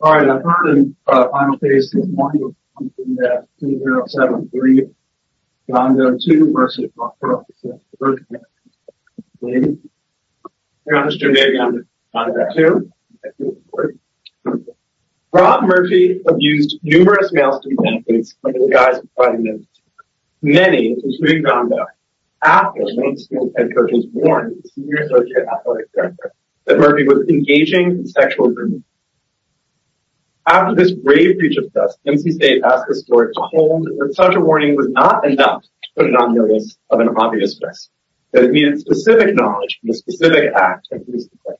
All right, our third and final case this morning is 2073, Don Doe 2 v. North Carolina State University We're going to start with Don Doe 2 Rob Murphy abused numerous male student athletes under the guise of fighting them. Many, including Don Doe, athletes and coaches warned the senior associate athletic director that Murphy was engaging in sexual abuse. After this grave breach of trust, NC State asked the court to hold that such a warning was not enough to put it on notice of an obvious misdemeanor. That it needed specific knowledge from a specific act of police defense.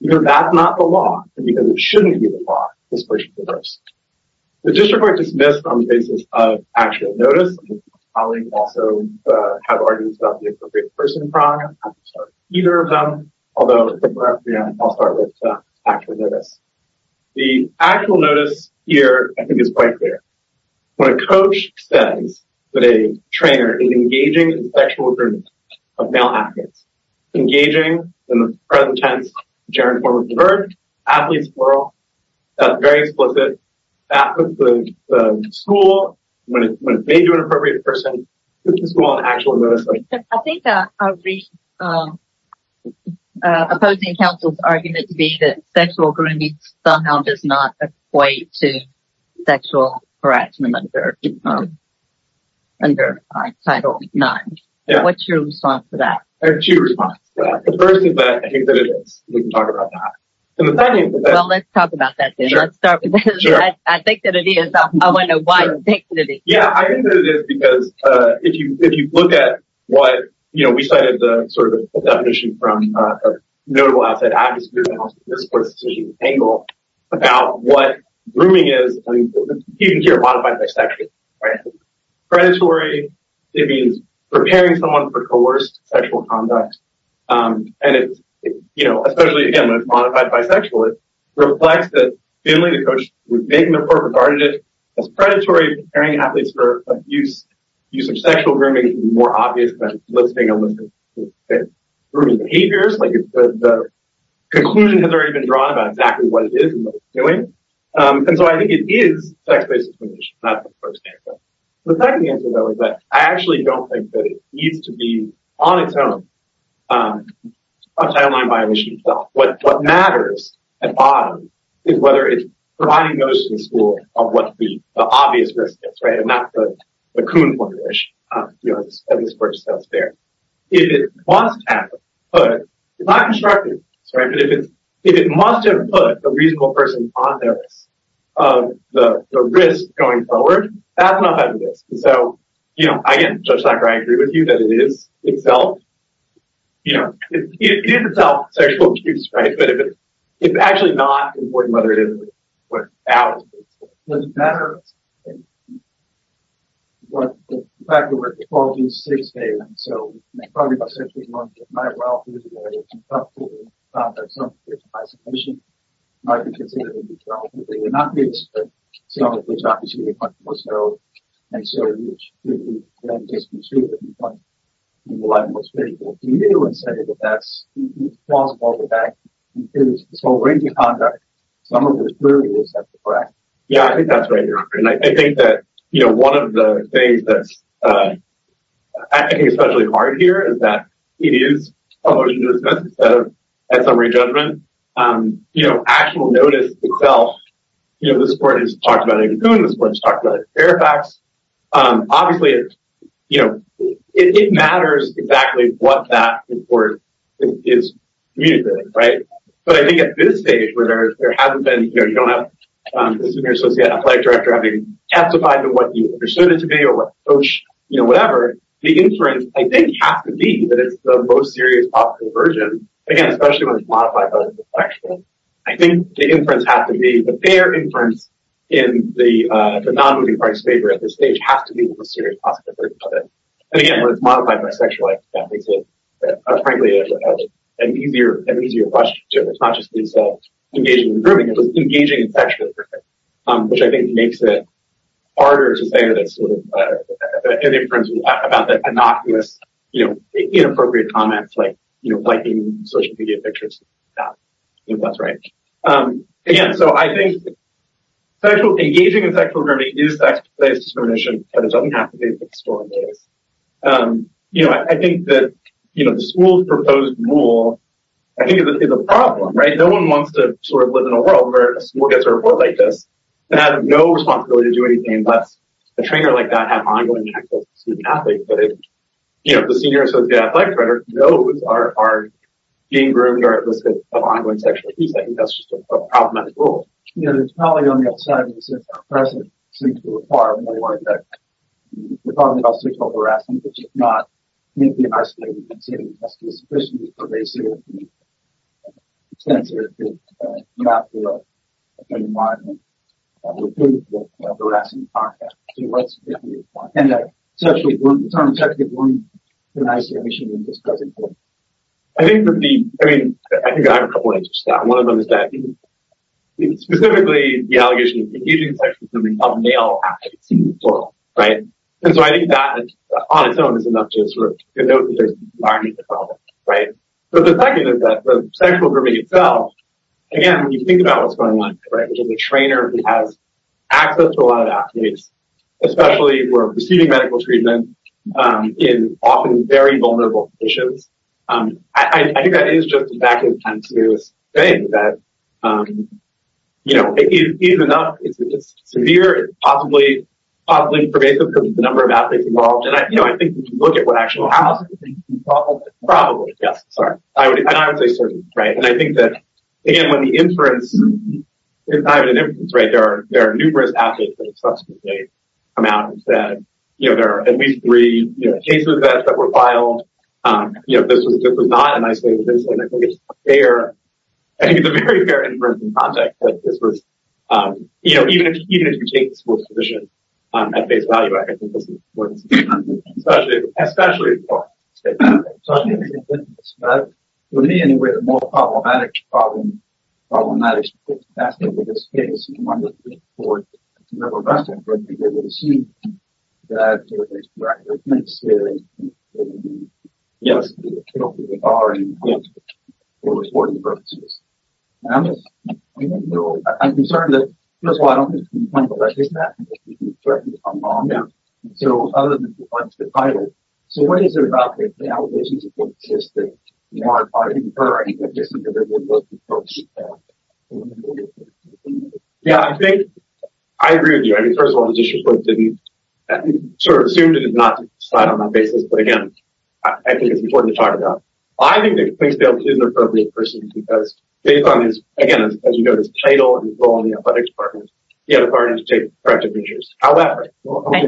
Because that's not the law, and because it shouldn't be the law, this question is reversed. The district court dismissed on the basis of actual notice. The actual notice here, I think, is quite clear. When a coach says that a trainer is engaging in sexual abuse of male athletes. Engaging, in the present tense, in the gerund form of diverge. Athletes plural. That's very explicit. The school, when it's made to an appropriate person, puts the school on actual notice. I think a recent opposing counsel's argument to be that sexual grounding somehow does not equate to sexual harassment under Title IX. What's your response to that? There are two responses to that. The first is that I think that it is. We can talk about that. Well, let's talk about that then. I think that it is. I want to know why you think that it is. Yeah, I think that it is because if you look at what, you know, we cited sort of a definition from a notable outside advocacy group, about what grooming is, you can hear a lot about bisexuality. Predatory, it means preparing someone for coerced sexual conduct. And it's, you know, especially again when it's modified bisexual, it reflects that Finley, the coach, would make an appropriate argument. It's predatory, preparing athletes for abuse. Use of sexual grooming is more obvious than listing a list of grooming behaviors. The conclusion has already been drawn about exactly what it is and what it's doing. And so I think it is sex-based discrimination. That's the first answer. The second answer, though, is that I actually don't think that it needs to be on its own. It's a timeline violation itself. What matters at the bottom is whether it's providing notice to the school of what the obvious risk is, right? And that's the Kuhn formulation. If it must have put, it's not constructive, but if it must have put a reasonable person on the risk going forward, that's not a risk. So, you know, again, Judge Sarkar, I agree with you that it is itself, you know, it is itself sexual abuse, right? But it's actually not important whether it is or not. It doesn't matter. The fact of the matter is that the quality is sex-based. And so, probably by the century, we're going to get quite well through the way. It's incompetent to conduct some form of discrimination. It might be considered indiscriminate, but it would not be discriminatory. Some of which, obviously, would be much more so. And so, you should clearly, you know, just be sure that you find the one that's most favorable to you. And say that that's plausible. That includes the sole right to conduct. Yeah, I think that's right, Your Honor. And I think that, you know, one of the things that's, I think, especially hard here is that it is a motion to dismiss instead of a summary judgment. You know, actual notice itself, you know, this Court has talked about it in Koon. This Court has talked about it in Fairfax. Obviously, you know, it matters exactly what that report is communicating, right? But I think at this stage, where there hasn't been, you know, you don't have the Senior Associate Athletic Director having testified to what you understood it to be or what coach, you know, whatever. The inference, I think, has to be that it's the most serious possible version. Again, especially when it's modified by the sexual. I think the inference has to be the fair inference in the non-moving parts favor at this stage has to be the most serious possible version of it. And again, when it's modified by sexual, that makes it, frankly, an easier question to answer. It's not just engaging in grooming, it's engaging in sexual grooming. Which I think makes it harder to say that it's sort of an inference about the innocuous, you know, inappropriate comments like, you know, liking social media pictures. That's right. Again, so I think engaging in sexual grooming is sex-based discrimination, but it doesn't have to be sexual. You know, I think that, you know, the school's proposed rule, I think, is a problem, right? No one wants to sort of live in a world where a school gets a report like this and has no responsibility to do anything less. A trainer like that has ongoing sexual abuse. But if, you know, the senior associate athletic director knows our being groomed or at risk of ongoing sexual abuse, I think that's just a problematic rule. You know, there's probably on the outside, since our president seems to require more of that. We're talking about sexual harassment, which is not uniquely in our state. We consider it as a discrimination of race or gender. It's not the same environment we're in for harassment and contact. So what's the difference? And that sexual grooming, it's not only sexual grooming, it's an isolation of this present world. I think that the, I mean, I think I have a couple answers to that. Specifically, the allegation of engaging in sexual grooming of male athletes in this world, right? And so I think that on its own is enough to sort of denote that there's an environment for problems, right? But the second is that the sexual grooming itself, again, when you think about what's going on, right, which is a trainer who has access to a lot of athletes, especially who are receiving medical treatment in often very vulnerable conditions. I think that is just a back and forth thing that, you know, is enough. It's severe, possibly pervasive because of the number of athletes involved. And I think if you look at what actually happens, probably, yes, sorry. And I would say certainly, right? And I think that, again, when the inference, it's not even an inference, right, there are numerous athletes that have subsequently come out and said, you know, there are at least three cases that were filed. You know, this was not an isolated incident. I think it's a fair, I think it's a very fair inference in context that this was, you know, even if you take the sports position at face value, I think this is important. Especially for the state. For me, anyway, the more problematic problem, problematic aspect of this case, and one that we report to the rest of the committee, they will assume that there is direct evidence that, yes, they are in good, for reporting purposes. And I'm just, you know, I'm concerned that, first of all, I don't think it's been pointed out that this is happening, but it certainly is on the law now. So, other than the title, so what is it about the allegations that exist that, you know, are occurring with this individual? Yeah, I think, I agree with you. I mean, first of all, the district court didn't, sort of assumed it did not decide on that basis, but again, I think it's important to talk about. I think that the plaintiff is an appropriate person because, based on his, again, as you know, his title, and his role in the athletics department, he had authority to take corrective measures. Thank you. I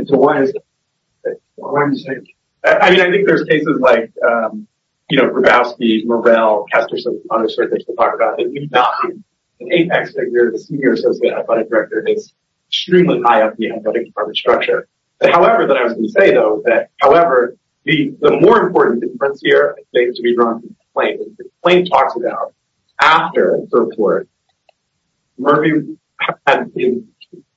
mean, I think there's cases like, you know, Grabowski, Morrell, Kesterson, there's certain things to talk about. The apex figure, the senior associate athletic director, is extremely high up in the athletic department structure. However, then I was going to say, though, that, however, the more important difference here is going to be drawn from the plaintiff. The plaintiff talks about, after the report, Murphy had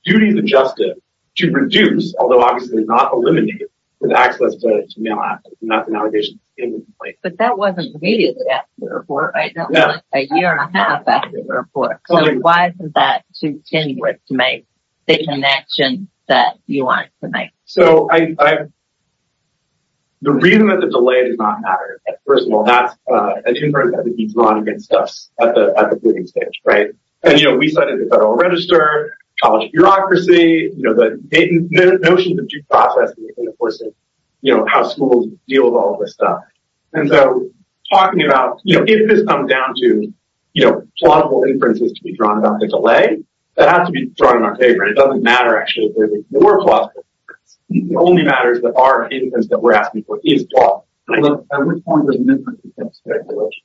duties adjusted to reduce, although obviously not eliminate, the access to male athletes. And that's an allegation against the plaintiff. But that wasn't immediately after the report, right? That was like a year and a half after the report. So why isn't that too tenuous to make the connection that you want it to make? So, the reason that the delay did not matter, first of all, that's a difference that would be drawn against us at the booting stage, right? And, you know, we cited the Federal Register, college bureaucracy, you know, the notion of the due process in the course of how schools deal with all of this stuff. And so, talking about, you know, if this comes down to, you know, plausible inferences to be drawn about the delay, that has to be drawn in our favor. It doesn't matter, actually, if there's a more plausible inference. It only matters that our inference that we're asking for is plausible. I would call it a misrepresentation of speculation.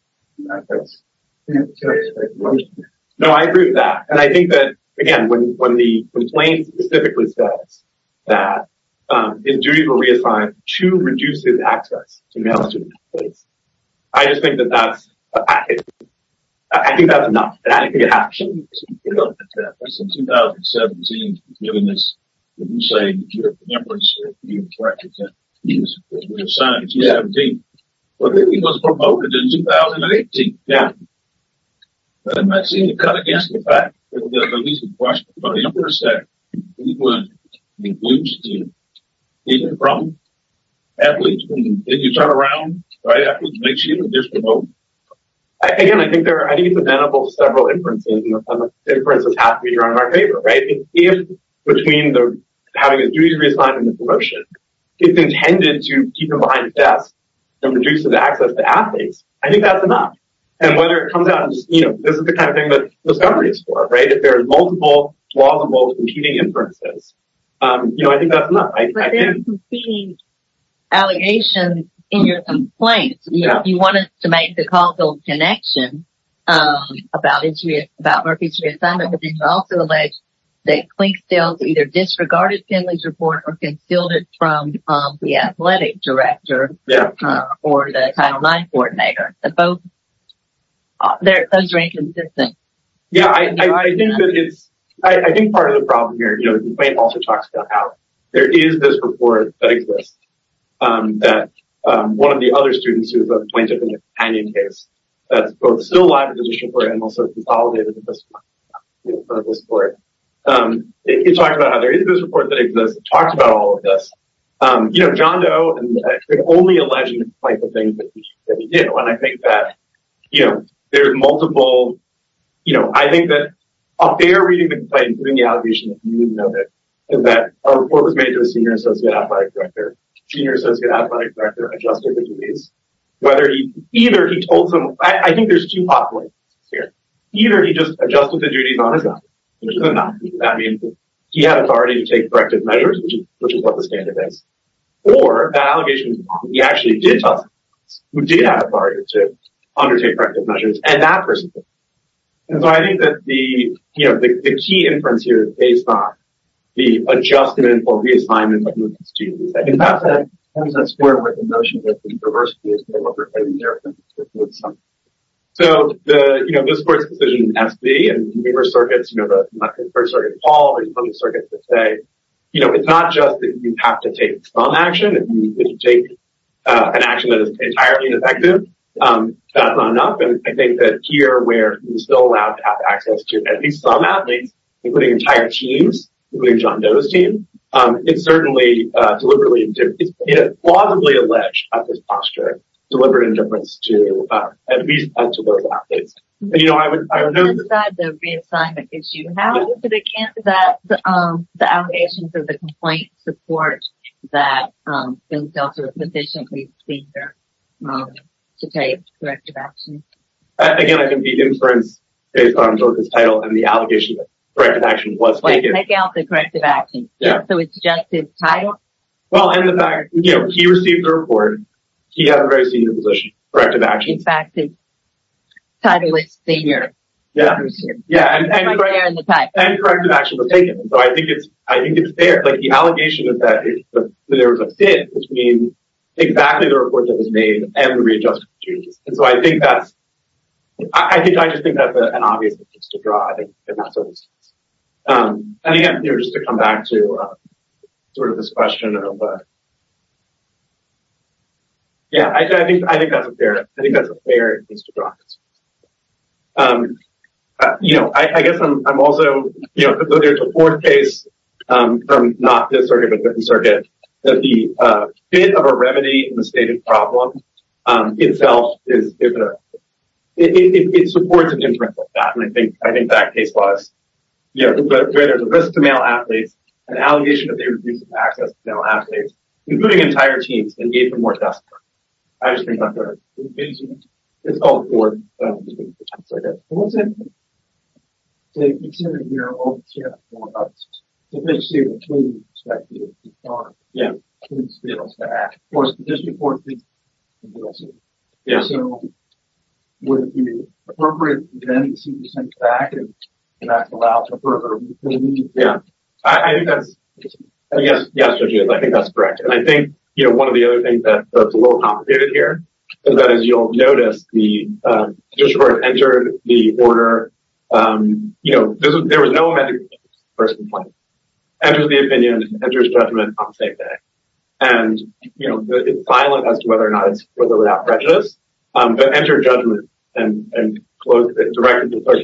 No, I agree with that. And I think that, again, when the complaint specifically says that his duty to reassign to reduce his access to male student athletes, I just think that that's a package. I think that's enough. Since 2017, you're saying that your reference, that he was assigned in 2017, but he was promoted in 2018. Yeah. And that seemed to cut against the fact that at least the question about the interest that he would include in the problem. Athletes, when you turn around, right, athletes make sure that they're promoted. Again, I think it's available to several inferences. The inference has to be drawn in our favor, right? If between having a duty to reassign and the promotion, it's intended to keep him behind a desk and reduce his access to athletes, I think that's enough. And whether it comes out as, you know, this is the kind of thing that Discovery is for, right? If there are multiple plausible competing inferences, you know, I think that's enough. But there are competing allegations in your complaint. You know, you want us to make the causal connection about Murphy's reassignment, but then you also allege that Clink stills either disregarded Finley's report or concealed it from the athletic director or the Title IX coordinator. Those are inconsistent. Yeah. I think part of the problem here, you know, the complaint also talks about how there is this report that exists, that one of the other students who was appointed in a companion case that's both still alive in the district court and also consolidated in front of this court. It talks about how there is this report that exists. It talks about all of this. You know, John Doe, and I think only alleging the type of things that he did. And I think that, you know, there's multiple, you know, I think that a fair reading of the complaint, including the allegations, is that a report was made to the senior associate athletic director. The senior associate athletic director adjusted the duties. Either he told someone, I think there's two pot points here. Either he just adjusted the duties on his own, which is a no. That means he had authority to take corrective measures, which is what the standard is. Or that allegation, he actually did tell someone who did have authority to undertake corrective measures. And that person did. And so I think that the, you know, the key inference here is based on the adjustment or reassignment. In fact, that's more of a notion that the diversity is more representative. So the, you know, this court's decision, and we were circuits, you know, the first circuit Paul, the circuit today, you know, it's not just that you have to take some action. If you take an action that is entirely ineffective, that's not enough. And I think that here where you're still allowed to have access to at least some athletes, including entire teams, including John Doe's team, it's certainly deliberately, it's plausibly alleged at this posture, deliberate indifference to, at least to those athletes. And, I would know that the reassignment issue, how is it that the allegations of the complaint support that themselves are to take corrective action. Again, I can be inference based on his title and the allegation that corrective action was taken out the corrective action. So it's just his title. Well, and the fact that he received the report, he has a very senior position, corrective action. the title is senior. Yeah. And corrective action was taken. So I think it's, I think it's fair. Like the allegation is that there was a fit, which means exactly the report that was made and readjusted. And so I think that's, I think, I just think that's an obvious thing to draw. And again, just to come back to sort of this question. Yeah, I think, I think that's a fair, I think that's a fair thing to draw. You know, I guess I'm also, you know, there's a fourth case from not this circuit, but the circuit, that the fit of a remedy in the stated problem itself is, it supports a different, and I think, I think that case was, you know, there's a risk to male athletes, an allegation that they reduced access to male athletes, including entire teams, and gave them more desks. I just think that's fair. It's all important. So I guess, what's it, say, considering your own, you know, yeah. Yeah. Of course, this report. Yeah. would it be appropriate, then, and that's allowed to occur. Yeah, I think that's, I guess, I think that's correct. And I think, you know, one of the other things that's a little complicated here is that as you'll notice, the district entered the order, you know, there was no first complaint. And there's the opinion, and there's judgment on the same day. you know, it's violent as to whether or not it's prejudice, but enter judgment, and close it directly. But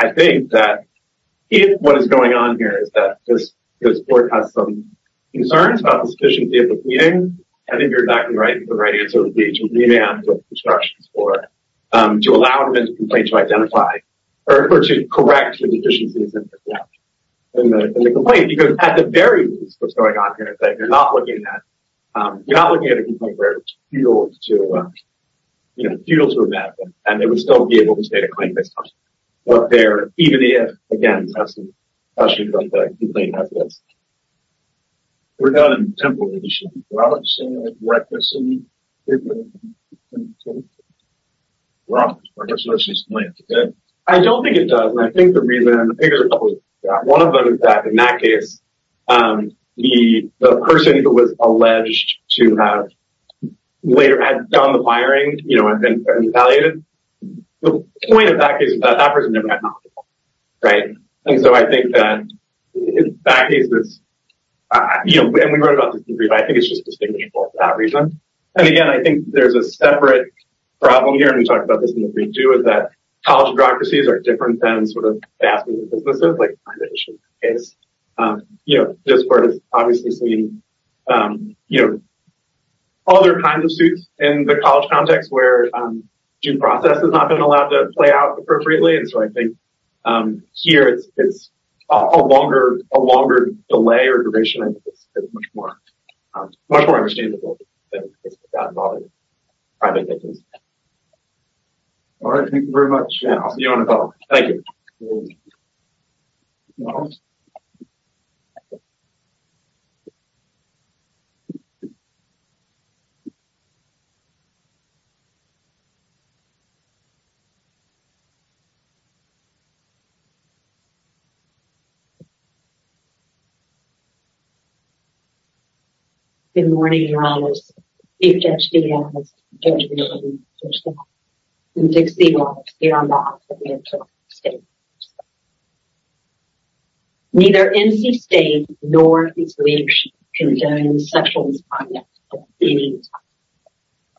I think that if what is going on here is that this, this board has some concerns about the sufficiency of the meeting. I think you're exactly right. The right answer would be to revamp the instructions for, um, to allow them to complain, to identify, or to correct the deficiencies. And the complaint, because at the very least, what's going on here is that you're not looking at, um, you're not looking at a complaint where it's futile to, you know, futile to revamp, and they would still be able to state a claim based on what they're, even if, again, the complaint has this. We're done temporarily. Well, it's reckless. Well, I don't think it does. I think the reason one of them is that in that case, um, the person who was alleged to have later had done the firing, you know, I've been evaluated. The point of that is that that person. Right. And so I think that in that case is, you know, and we wrote about this, but I think it's just that reason. And again, I think there's a separate problem here. We do is that college bureaucracies are different than sort of. You know, this part is obviously seen, um, you know, all their kinds of suits in the college context where, um, due process has not been allowed to play out appropriately. And so I think, um, here it's, it's a longer, a longer delay or duration. It's much more, much more understandable. All right. Thank you very much. Thank you. Good morning. You can see. Neither NC state nor.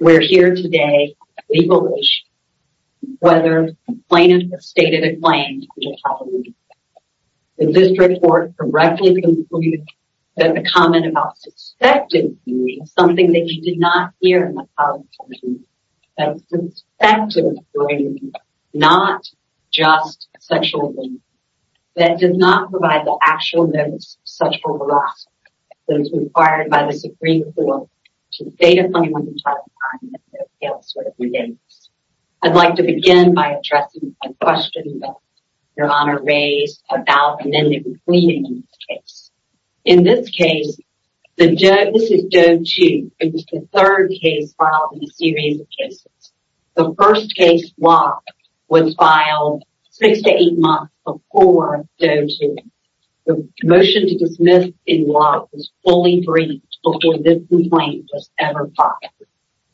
We're here today. Whether plaintiff stated a claim. Is this report correctly? There's a comment about something that you did not hear. Not just sexual. That did not provide the actual. I'd like to begin by addressing. Your honor raised about. In this case, the Joe, this is Joe too. It was the 3rd case filed in a series of cases. The 1st case was filed 6 to 8 months before. The motion to dismiss in law is fully free before this complaint was ever.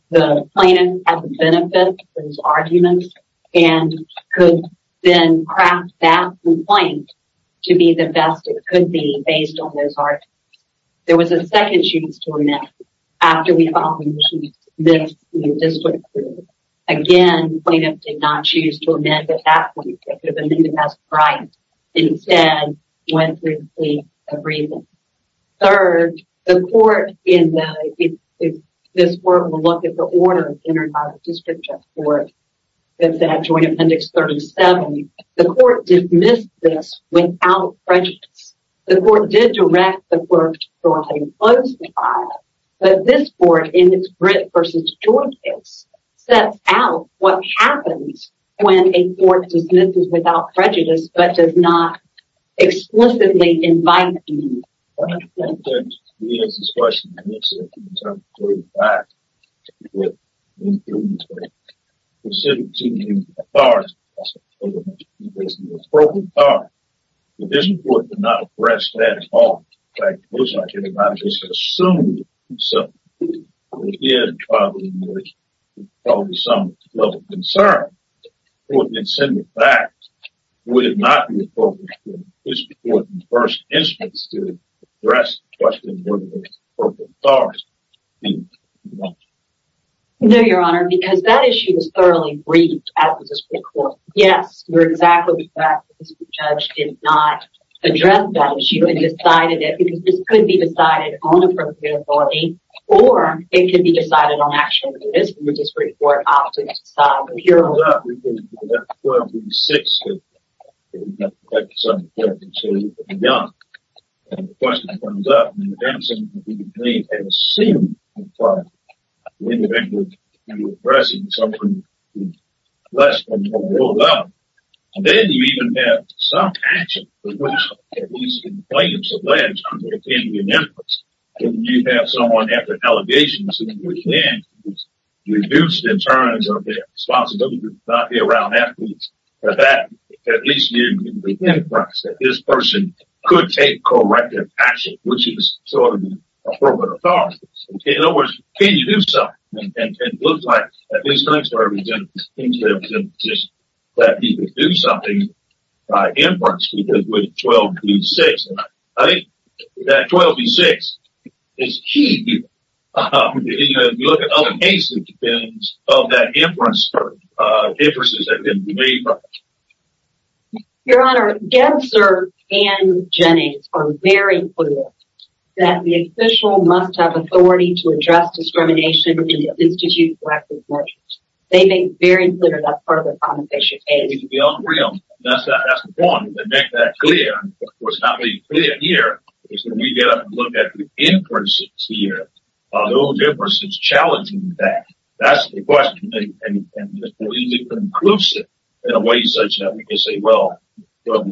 The plaintiff has a benefit for his arguments and could then craft that complaint to be the best. It could be based on those. There was a 2nd, she was doing that. After we. Again, plaintiff did not choose to amend that. Instead, when we agree. Third, the court in the. This work will look at the order entered by the district court. That's that joint appendix 37. The court dismissed this without prejudice. The court did direct the. But this board in its grit versus. That's out. What happens when a court dismisses without prejudice, but does not explicitly invite. He has this question. Back. As far as. It is important to not address that at all. Assume. Some level of concern. In fact, we did not. First instance. Question. No, your honor, because that issue is thoroughly briefed. Yes, we're exactly. Judge did not address that issue and decided that because this could be decided. Or it can be decided on actually. This report. Here. Six. Young. What's up? They seem. Pressing. Less. And then you even have some action. You have someone at the allegations. In terms of. Not be around. That at least. This person could take. Which is. In other words, can you do something? And it looks like. That you could do something. Six. Twelve. Is she. Of that inference. Interests. Your honor. Yes, sir. And Jenny. Very clear. That the official must have authority to address discrimination. Institute. They make very clear. That's part of the conversation. Real. That's that. That's the point. And make that clear. What's not being clear here is that we get up and look at the inferences here. No difference. It's challenging that. That's the question. In a way, that we can say, well. No,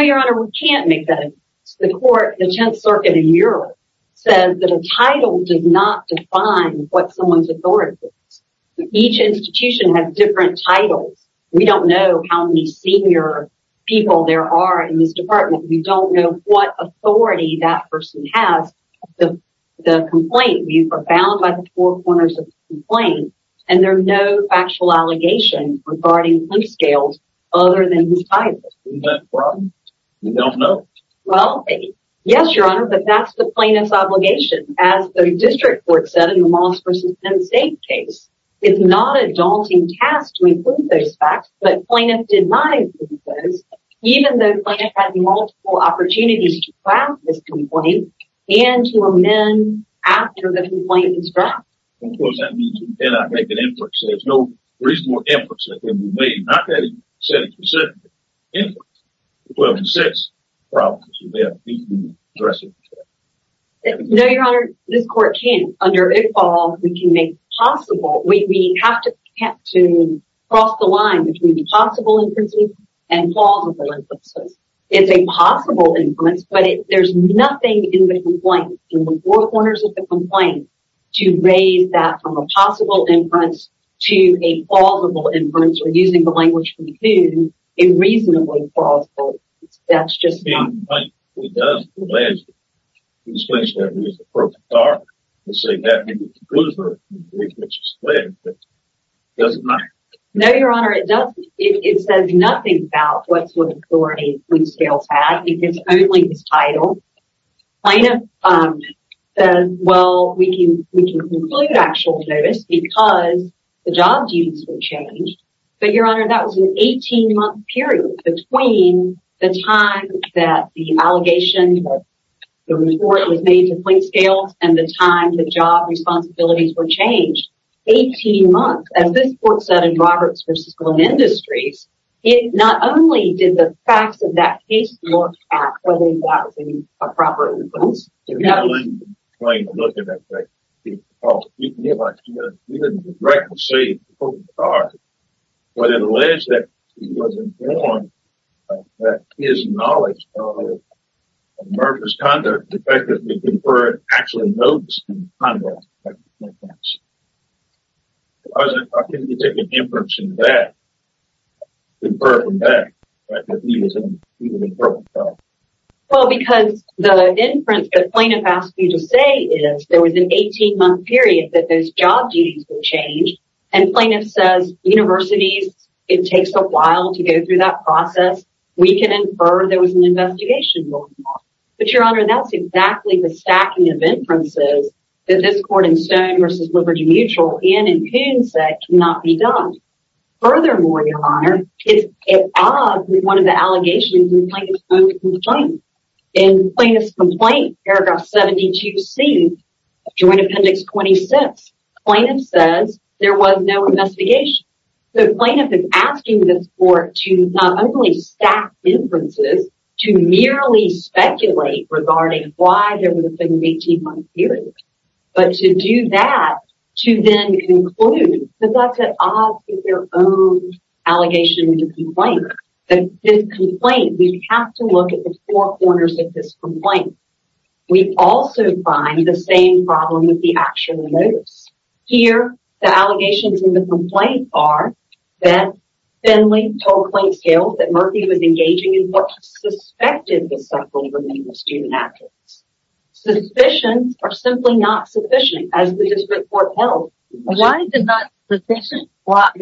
your honor. We can't make that. The court, the 10th circuit in Europe says that a title does not define what someone's authority is. Each institution has different titles. We don't know how many senior people there are in this department. We don't know what authority that person has. The complaint. You are bound by the four corners of the plane. And there's no actual allegation regarding scales. Other than. You don't know. yes, your honor. But that's the plane. It's obligation. As the district court said, in the most persistent state case, it's not a daunting task to include those facts. But plaintiff denied. Even though. Multiple opportunities. And to amend. After the complaint. Of course, that means we cannot make an effort. So there's no reasonable efforts that can be made. Not that he said. Well, six problems. No, your honor. This court can't under all. We can make possible. We have to have to cross the line between the possible and plausible. It's a possible influence, but there's nothing in the complaint in the four corners of the complaint. To raise that from a possible inference to a plausible inference. We're using the language. In reasonably. That's just. No, your honor. It doesn't. It says nothing about what sort of authority. It's only this title. I know. Well, we can, we can include actual notice because the job duties were changed. But your honor, that was an 18 month period between the time that the allegation. The report was made to point scales, and the time the job responsibilities were changed 18 months. As this court said, in Roberts, for Cisco and industries, it not only did the facts of that case, look at whether that was a proper. Look at that. Oh, you can get like, you know, you didn't directly say. But it alleged that he wasn't born. That is knowledge. Of murderous conduct. The fact that we conferred actually notes. I was. I can take an inference in that. Conferred from that. Well, because the inference, the plaintiff asked me to say is there was an 18 month period that those job duties will change. And plaintiff says universities. It takes a while to go through that process. We can infer there was an investigation. But your honor, that's exactly the stacking of inferences that this court in stone versus Liberty Mutual in and can set cannot be done. Furthermore, your honor is one of the allegations. In plaintiff's complaint, paragraph 72 C. Joint appendix 26 plaintiff says there was no investigation. The plaintiff is asking this court to not only staff inferences to merely speculate regarding why there was a 18 month period. But to do that, to then conclude that that's at odds with their own allegation. And his complaint, we have to look at the four corners of this complaint. We also find the same problem with the actual notice here. The allegations in the complaint are that Finley told plain scale that Murphy was engaging in what's suspected. Suspicions are simply not sufficient as the district court held. Why is it not sufficient? What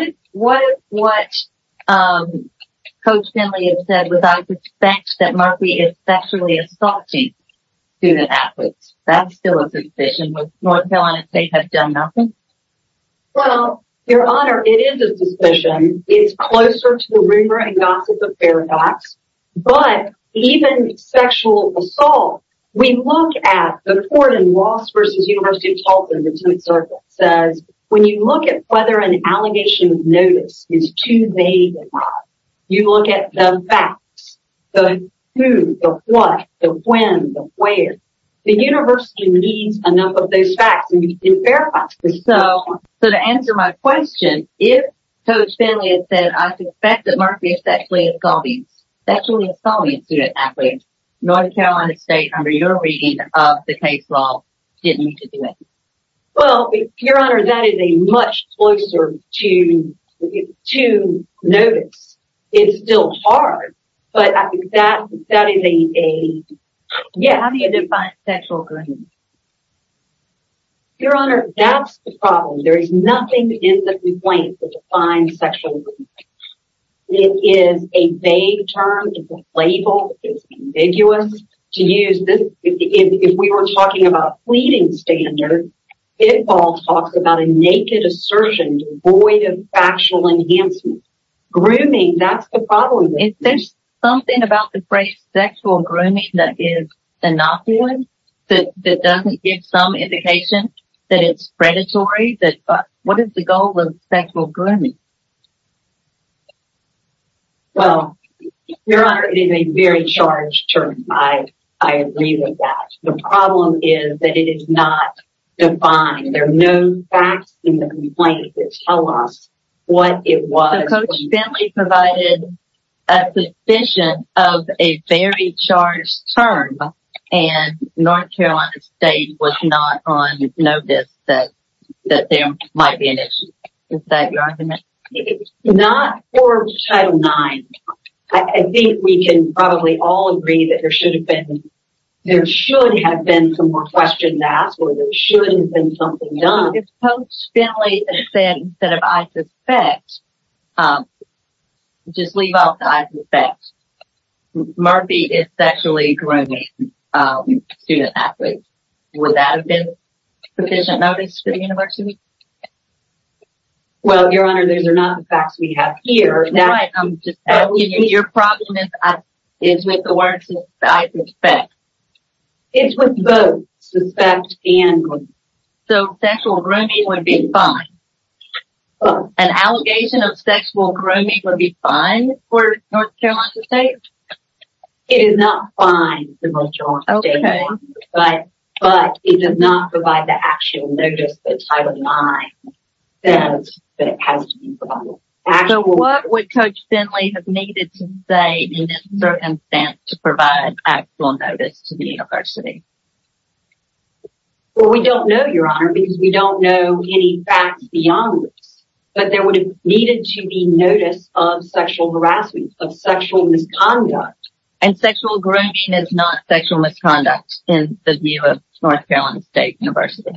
is what? Coach Finley has said without respect that Murphy is sexually assaulting student athletes. That's still a suspicion with North Carolina State has done nothing. Well, your honor, it is a suspicion. It's closer to the rumor and gossip of paradox, but even sexual assault. We look at the court in Ross versus University of Tulsa. Says, when you look at whether an allegation of notice is too vague, you look at the facts, the who, the what, the when, the where. The university needs a number of those facts and you can verify. So, so to answer my question, if Coach Finley has said, I suspect that Murphy is sexually assaulting, sexually assaulting student athletes, North Carolina State under your reading of the case law, didn't need to do it. your honor, that is a much closer to, to notice. It's still hard, but I think that, that is a, a, yeah. How do you define sexual? Your honor, that's the problem. There is nothing in the complaint to define sexual. It is a vague term. It's a label. It's ambiguous to use this. If we were talking about fleeting standard, it all talks about a naked assertion, void of factual enhancement, grooming. That's the problem. If there's something about the phrase sexual grooming, that is enough. That doesn't give some indication that it's predatory. But what is the goal of sexual grooming? Well, your honor, it is a very charged term. I agree with that. The problem is that it is not defined. There are no facts in the complaint that tell us what it was. So Coach Bentley provided a suspicion of a very charged term, and North Carolina State was not on notice that, that there might be an issue. Is that your argument? Not for Title IX. I think we can probably all agree that there should have been, there should have been some more questions asked, or there should have been something done. If Coach Bentley said, instead of I suspect, just leave off the I suspect. Murphy is sexually grooming student athletes. Would that have been sufficient notice for the university? Well, your honor, these are not the facts we have here. Your problem is with the word I suspect. It's with both suspect and grooming. So sexual grooming would be fine. An allegation of sexual grooming would be fine for North Carolina State? It is not fine for North Carolina State. But it does not provide the actual notice that Title IX says that it has to be provided. So what would Coach Bentley have needed to say in this circumstance to provide actual notice to the university? Well, we don't know your honor, because we don't know any facts beyond this. But there would have needed to be notice of sexual harassment, of sexual misconduct. And sexual grooming is not sexual misconduct in the view of North Carolina State University?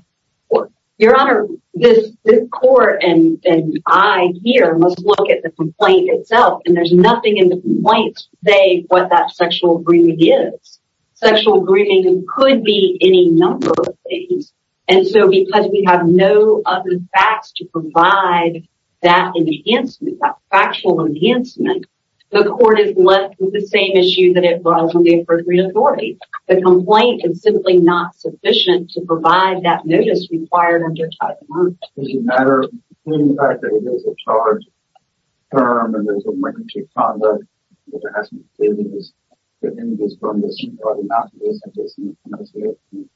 Your honor, this court and I here must look at the complaint itself. And there's nothing in the complaint to say what that sexual grooming is. Sexual grooming could be any number of things. And so because we have no other facts to provide that enhancement, that factual enhancement, the court is left with the same issue that it was on the appropriate authority. The complaint is simply not sufficient to provide that notice required under Title IX. Does it matter? Given the fact that it is a charged term and there is a record of conduct, which has been stated, that individuals from the state are not licensed in the United States, in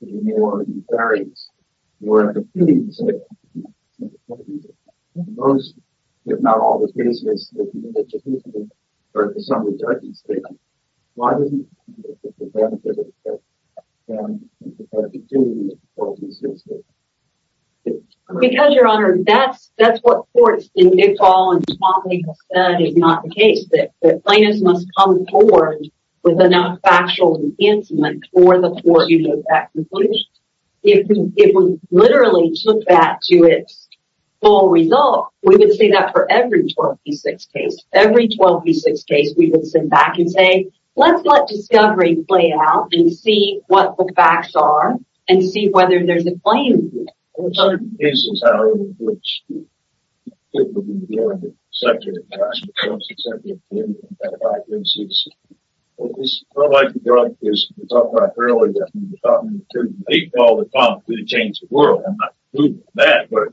New Orleans, or in the Philippines, or in the Philippines, most, if not all, the cases that you have indicated, or to some extent, the state, why doesn't the plaintiff get the benefit of the fact that the plaintiff has the opportunity to report these cases? Because, your honor, that's what courts in big fall and small legal said is not the case. That plaintiffs must come forward with enough factual enhancement for the court to get that conclusion. If we literally took that to its full result, we would see that for every 12 v. 6 case. Every 12 v. 6 case, we would sit back and say, let's let discovery play out and see what the facts are, and see whether there's a claim here. There are certain cases, however, in which people who are in the sector, and I'm a member of the sector, and I've had a lot of cases. It's not like the drug case we talked about earlier. I mean, the problem in big fall, the problem is that it changed the world. I'm not proving that, but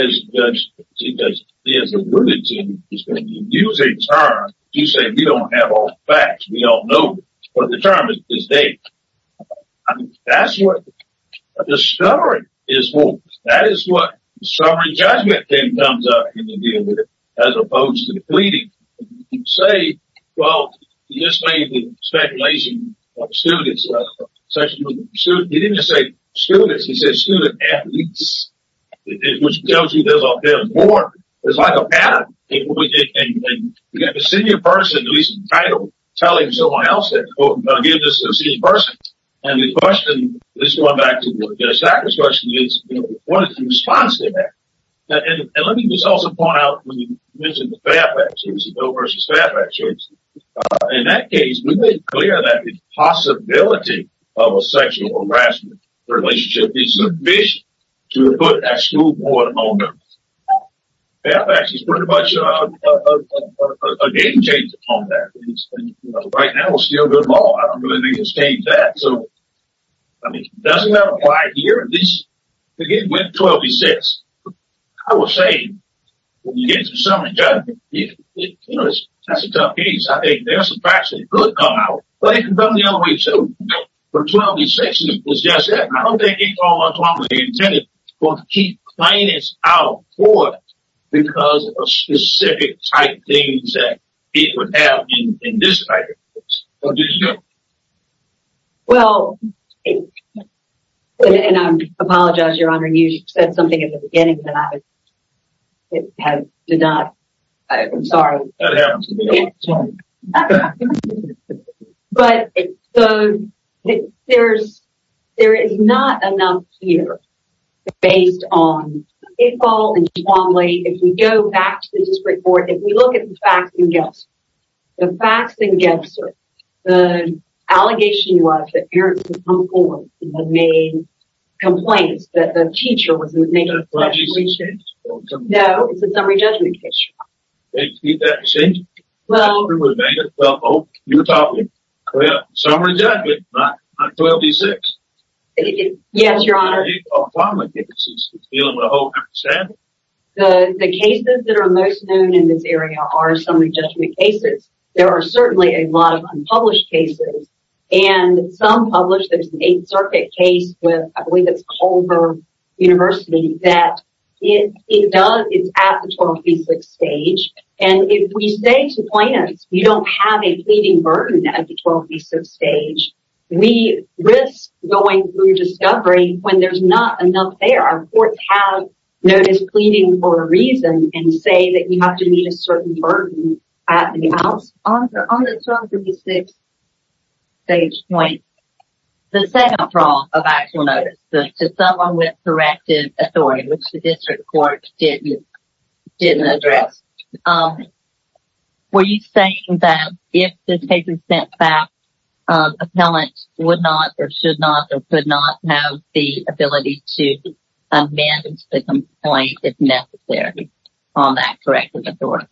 as a judge, as a ruling team, when you use a term, you say, we don't have all the facts. We don't know. But the term is there. I mean, that's what discovery is for. That is what discovery and judgment then comes up in the deal with it, as opposed to pleading. You say, well, you just made the speculation of students. He didn't just say students. He said student athletes, which tells you there's more. It's like a pattern. And you've got a senior person who is entitled to telling someone else that, quote, I'm going to give this to a senior person. And the question, just going back to the sector's question, is what is the response to that? And let me just also point out when you mentioned the Fairfax case, the Doe versus Fairfax case, in that case we made clear that the possibility of a sexual harassment relationship is sufficient to put that school board among them. Fairfax is pretty much a game changer on that. Right now, it's still good law. I don't really think it's changed that. So, I mean, doesn't that apply here? And this, again, went 12-6. I would say when you get into summary judgment, you know, that's a tough case. I think there are some facts that could come out. But it can come the other way, too. But 12-6 is just that. I don't think it's all automatically intended to keep plaintiffs out for it because of specific type things that it would have in this type of case. What do you think? Well, and I apologize, Your Honor, you said something in the beginning that I did not. I'm sorry. That happens to me all the time. But there is not enough here based on Iqbal and Twombly. If we go back to the district court, if we look at the facts and guesses, the facts and guesses, the allegation was that parents had come forward and had made complaints that the teacher wasn't making the right decisions. No, it's a summary judgment case, Your Honor. Did that change? You taught me. Summary judgment, not 12-6. Yes, Your Honor. Iqbal and Twombly, I think this is dealing with a whole different standard. The cases that are most known in this area are summary judgment cases. There are certainly a lot of unpublished cases. And some published, there's an Eighth Circuit case with, I believe it's Culver University, that it does, it's at the 12-56 stage. And if we say to plaintiffs, you don't have a pleading burden at the 12-56 stage, we risk going through discovery when there's not enough there. Our courts have notice pleading for a reason and say that you have to meet a certain burden at the 12-56 stage point. The second flaw of actual notice, to someone with corrective authority, which the district court didn't address, were you saying that if this case was sent back, appellant would not or should not or could not have the ability to amend the complaint if necessary on that corrective authority?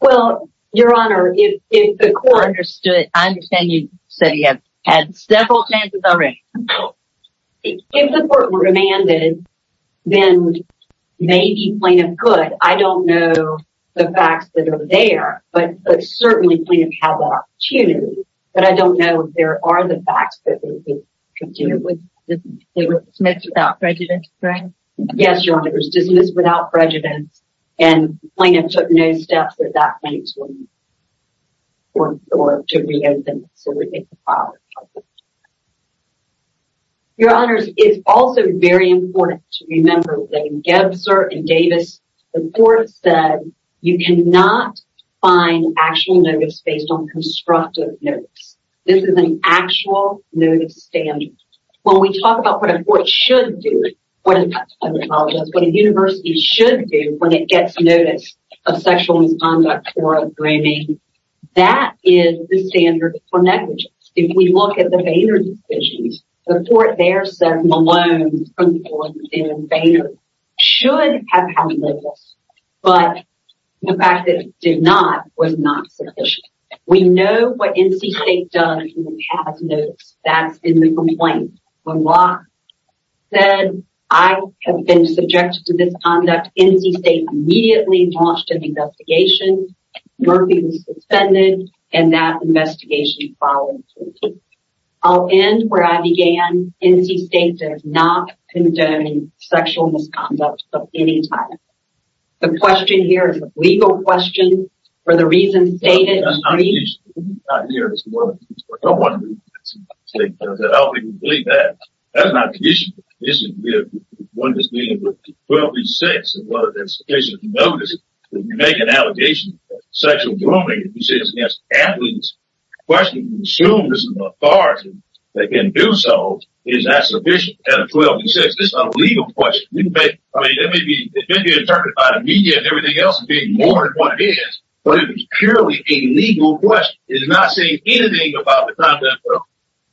Well, Your Honor, if the court understood, I understand you said you had several chances already. If the court remanded, then maybe plaintiff could. I don't know the facts that are there, but certainly plaintiff has that opportunity. But I don't know if there are the facts that they could do. They were dismissed without prejudice, right? Yes, Your Honor. It was dismissed without prejudice. And plaintiff took no steps at that point to reopen. So, we think the file is helpful. Your Honors, it's also very important to remember that in Gebser and Davis, the court said you cannot find actual notice based on constructive notice. This is an actual notice standard. When we talk about what a court should do, I apologize, what a university should do when it gets notice of sexual misconduct or a grooming, that is the standard for negligence. If we look at the Boehner decisions, the court there said Malone's complaint in Boehner should have had labels. But the fact that it did not was not sufficient. We know what NC State does when it has notice. That's in the complaint. When Locke said, I have been subjected to misconduct, NC State immediately launched an investigation. Murphy was suspended, and that investigation followed. I'll end where I began. NC State does not condone sexual misconduct of any type. The question here is a legal question. For the reasons stated, I don't believe that. That's not the issue. This is the one that's dealing with 12 v. 6. If you notice, if you make an allegation of sexual grooming, if you say it's an athlete's question, you assume there's an authority that can do so. Is that sufficient at a 12 v. 6? This is a legal question. I mean, it may be interpreted by the media and everything else as being more than what it is, but it's purely a legal question. It's not saying anything about the content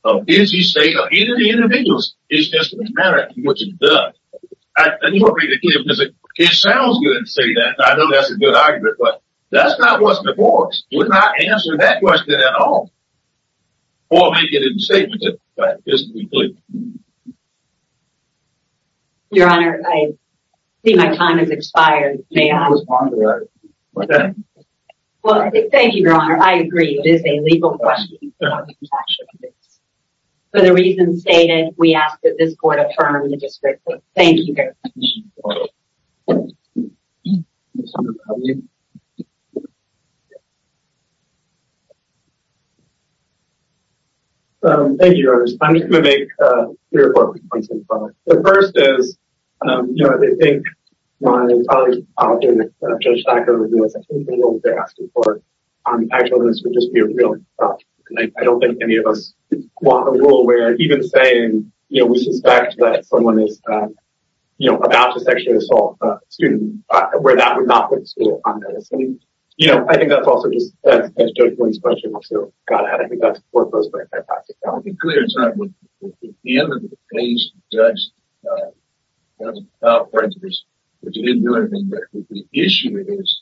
of NC State or any of the individuals. It's just a matter of what you've done. I just want to make it clear, because it sounds good to say that. I know that's a good argument, but that's not what's before us. We're not answering that question at all. Or making it a statement. Your Honor, I see my time has expired. May I respond to that? Thank you, Your Honor. I agree. It is a legal question. For the reasons stated, we ask that this court affirm the description. Thank you very much. Thank you, Your Honor. I'm just going to make three or four points. The first is, you know, I think my colleague, Judge Thacker, I think the rule they're asking for, actually, this would just be a real problem. I don't think any of us want a rule where, even saying, you know, we suspect that someone is, you know, about to sexually assault a student, where that would not put the school on notice. You know, I think that's also just, that's Judge Boyd's question. I think that's worth us going back to. I want to be clear, it's not the end of the case. Judge, without prejudice, that you didn't do anything, but the issue is,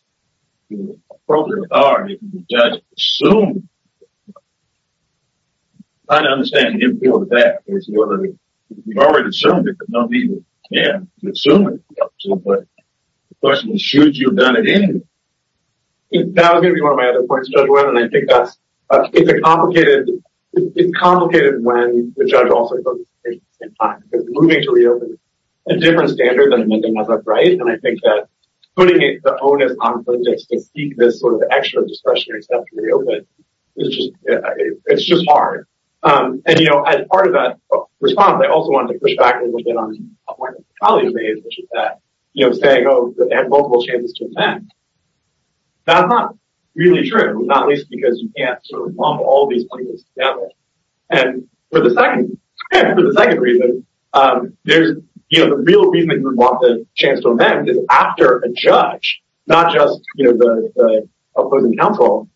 you know, appropriately are, if you judge, I understand the importance of that. You've already assumed it, but no need to, again, assume it. But, the question is, should you have done it anyway? That would be one of my other points, Judge Boyd, and I think that's, it's a complicated, it's complicated, when the judge also goes to court at the same time, because moving to reopen is a different standard than making another bribe, and I think that putting the onus on prejudice to seek this sort of extra discretionary step to reopen is just, it's just hard. And, you know, as part of that response, I also wanted to push back a little bit on a point that my colleague made, which is that, you know, saying, oh, they have multiple chances to attend. That's not really true, not least because you can't sort of lump all these players together. for the second, for the second reason, there's, you know, the real reason that you would want the chance to amend is after a judge, not just, you know, the opposing counsel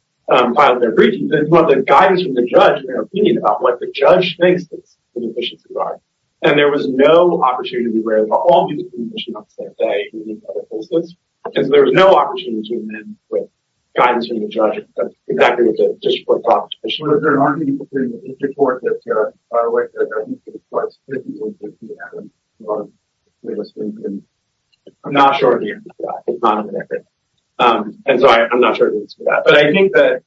filed their briefings, but the guidance from the judge, their opinion about what the judge thinks the inefficiencies are. And there was no opportunity to be aware of all these inefficiencies on the same day in each other's cases, and so there was no opportunity to amend with guidance from the judge exactly what you just talked about. I'm not sure. And so I'm not sure. But I think that,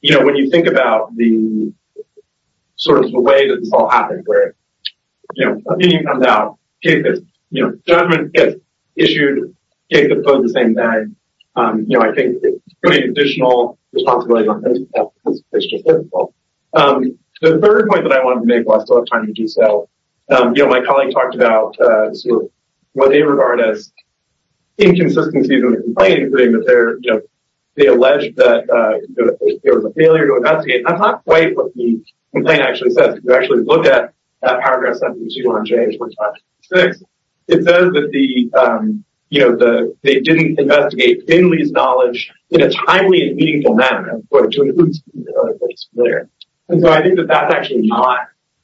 you know, when you think about the sort of the way that this all happened, you know, opinion comes out, you know, judgment gets issued, gets opposed the same day, you know, I think putting additional responsibility on things is just difficult. The third point that I wanted to make while I still have time to do so, you know, my colleague talked about sort of what they regard as inconsistencies in the complaint, including that they're, you know, they allege that there was a failure to investigate, and that's not quite what the complaint actually says. If you actually look at that paragraph 172 on page 456, it says that the, you know, they didn't investigate in Lee's knowledge in a timely and meaningful manner. And so I think that that's actually not,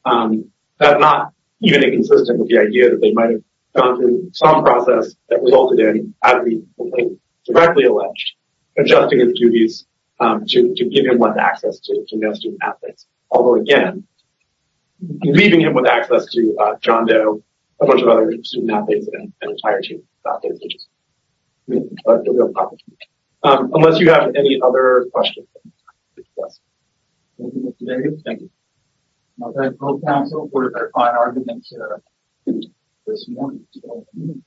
not even inconsistent with the idea that they might have gone through some process that resulted in having the complaint directly alleged, adjusting his duties to give him what access to no student athletes. Although again, leaving him with access to John Doe, a bunch of other student athletes and an entire team. That is interesting. Unless you have any other questions. Thank you. Thank you. Okay. We're going to find arguments here. This morning.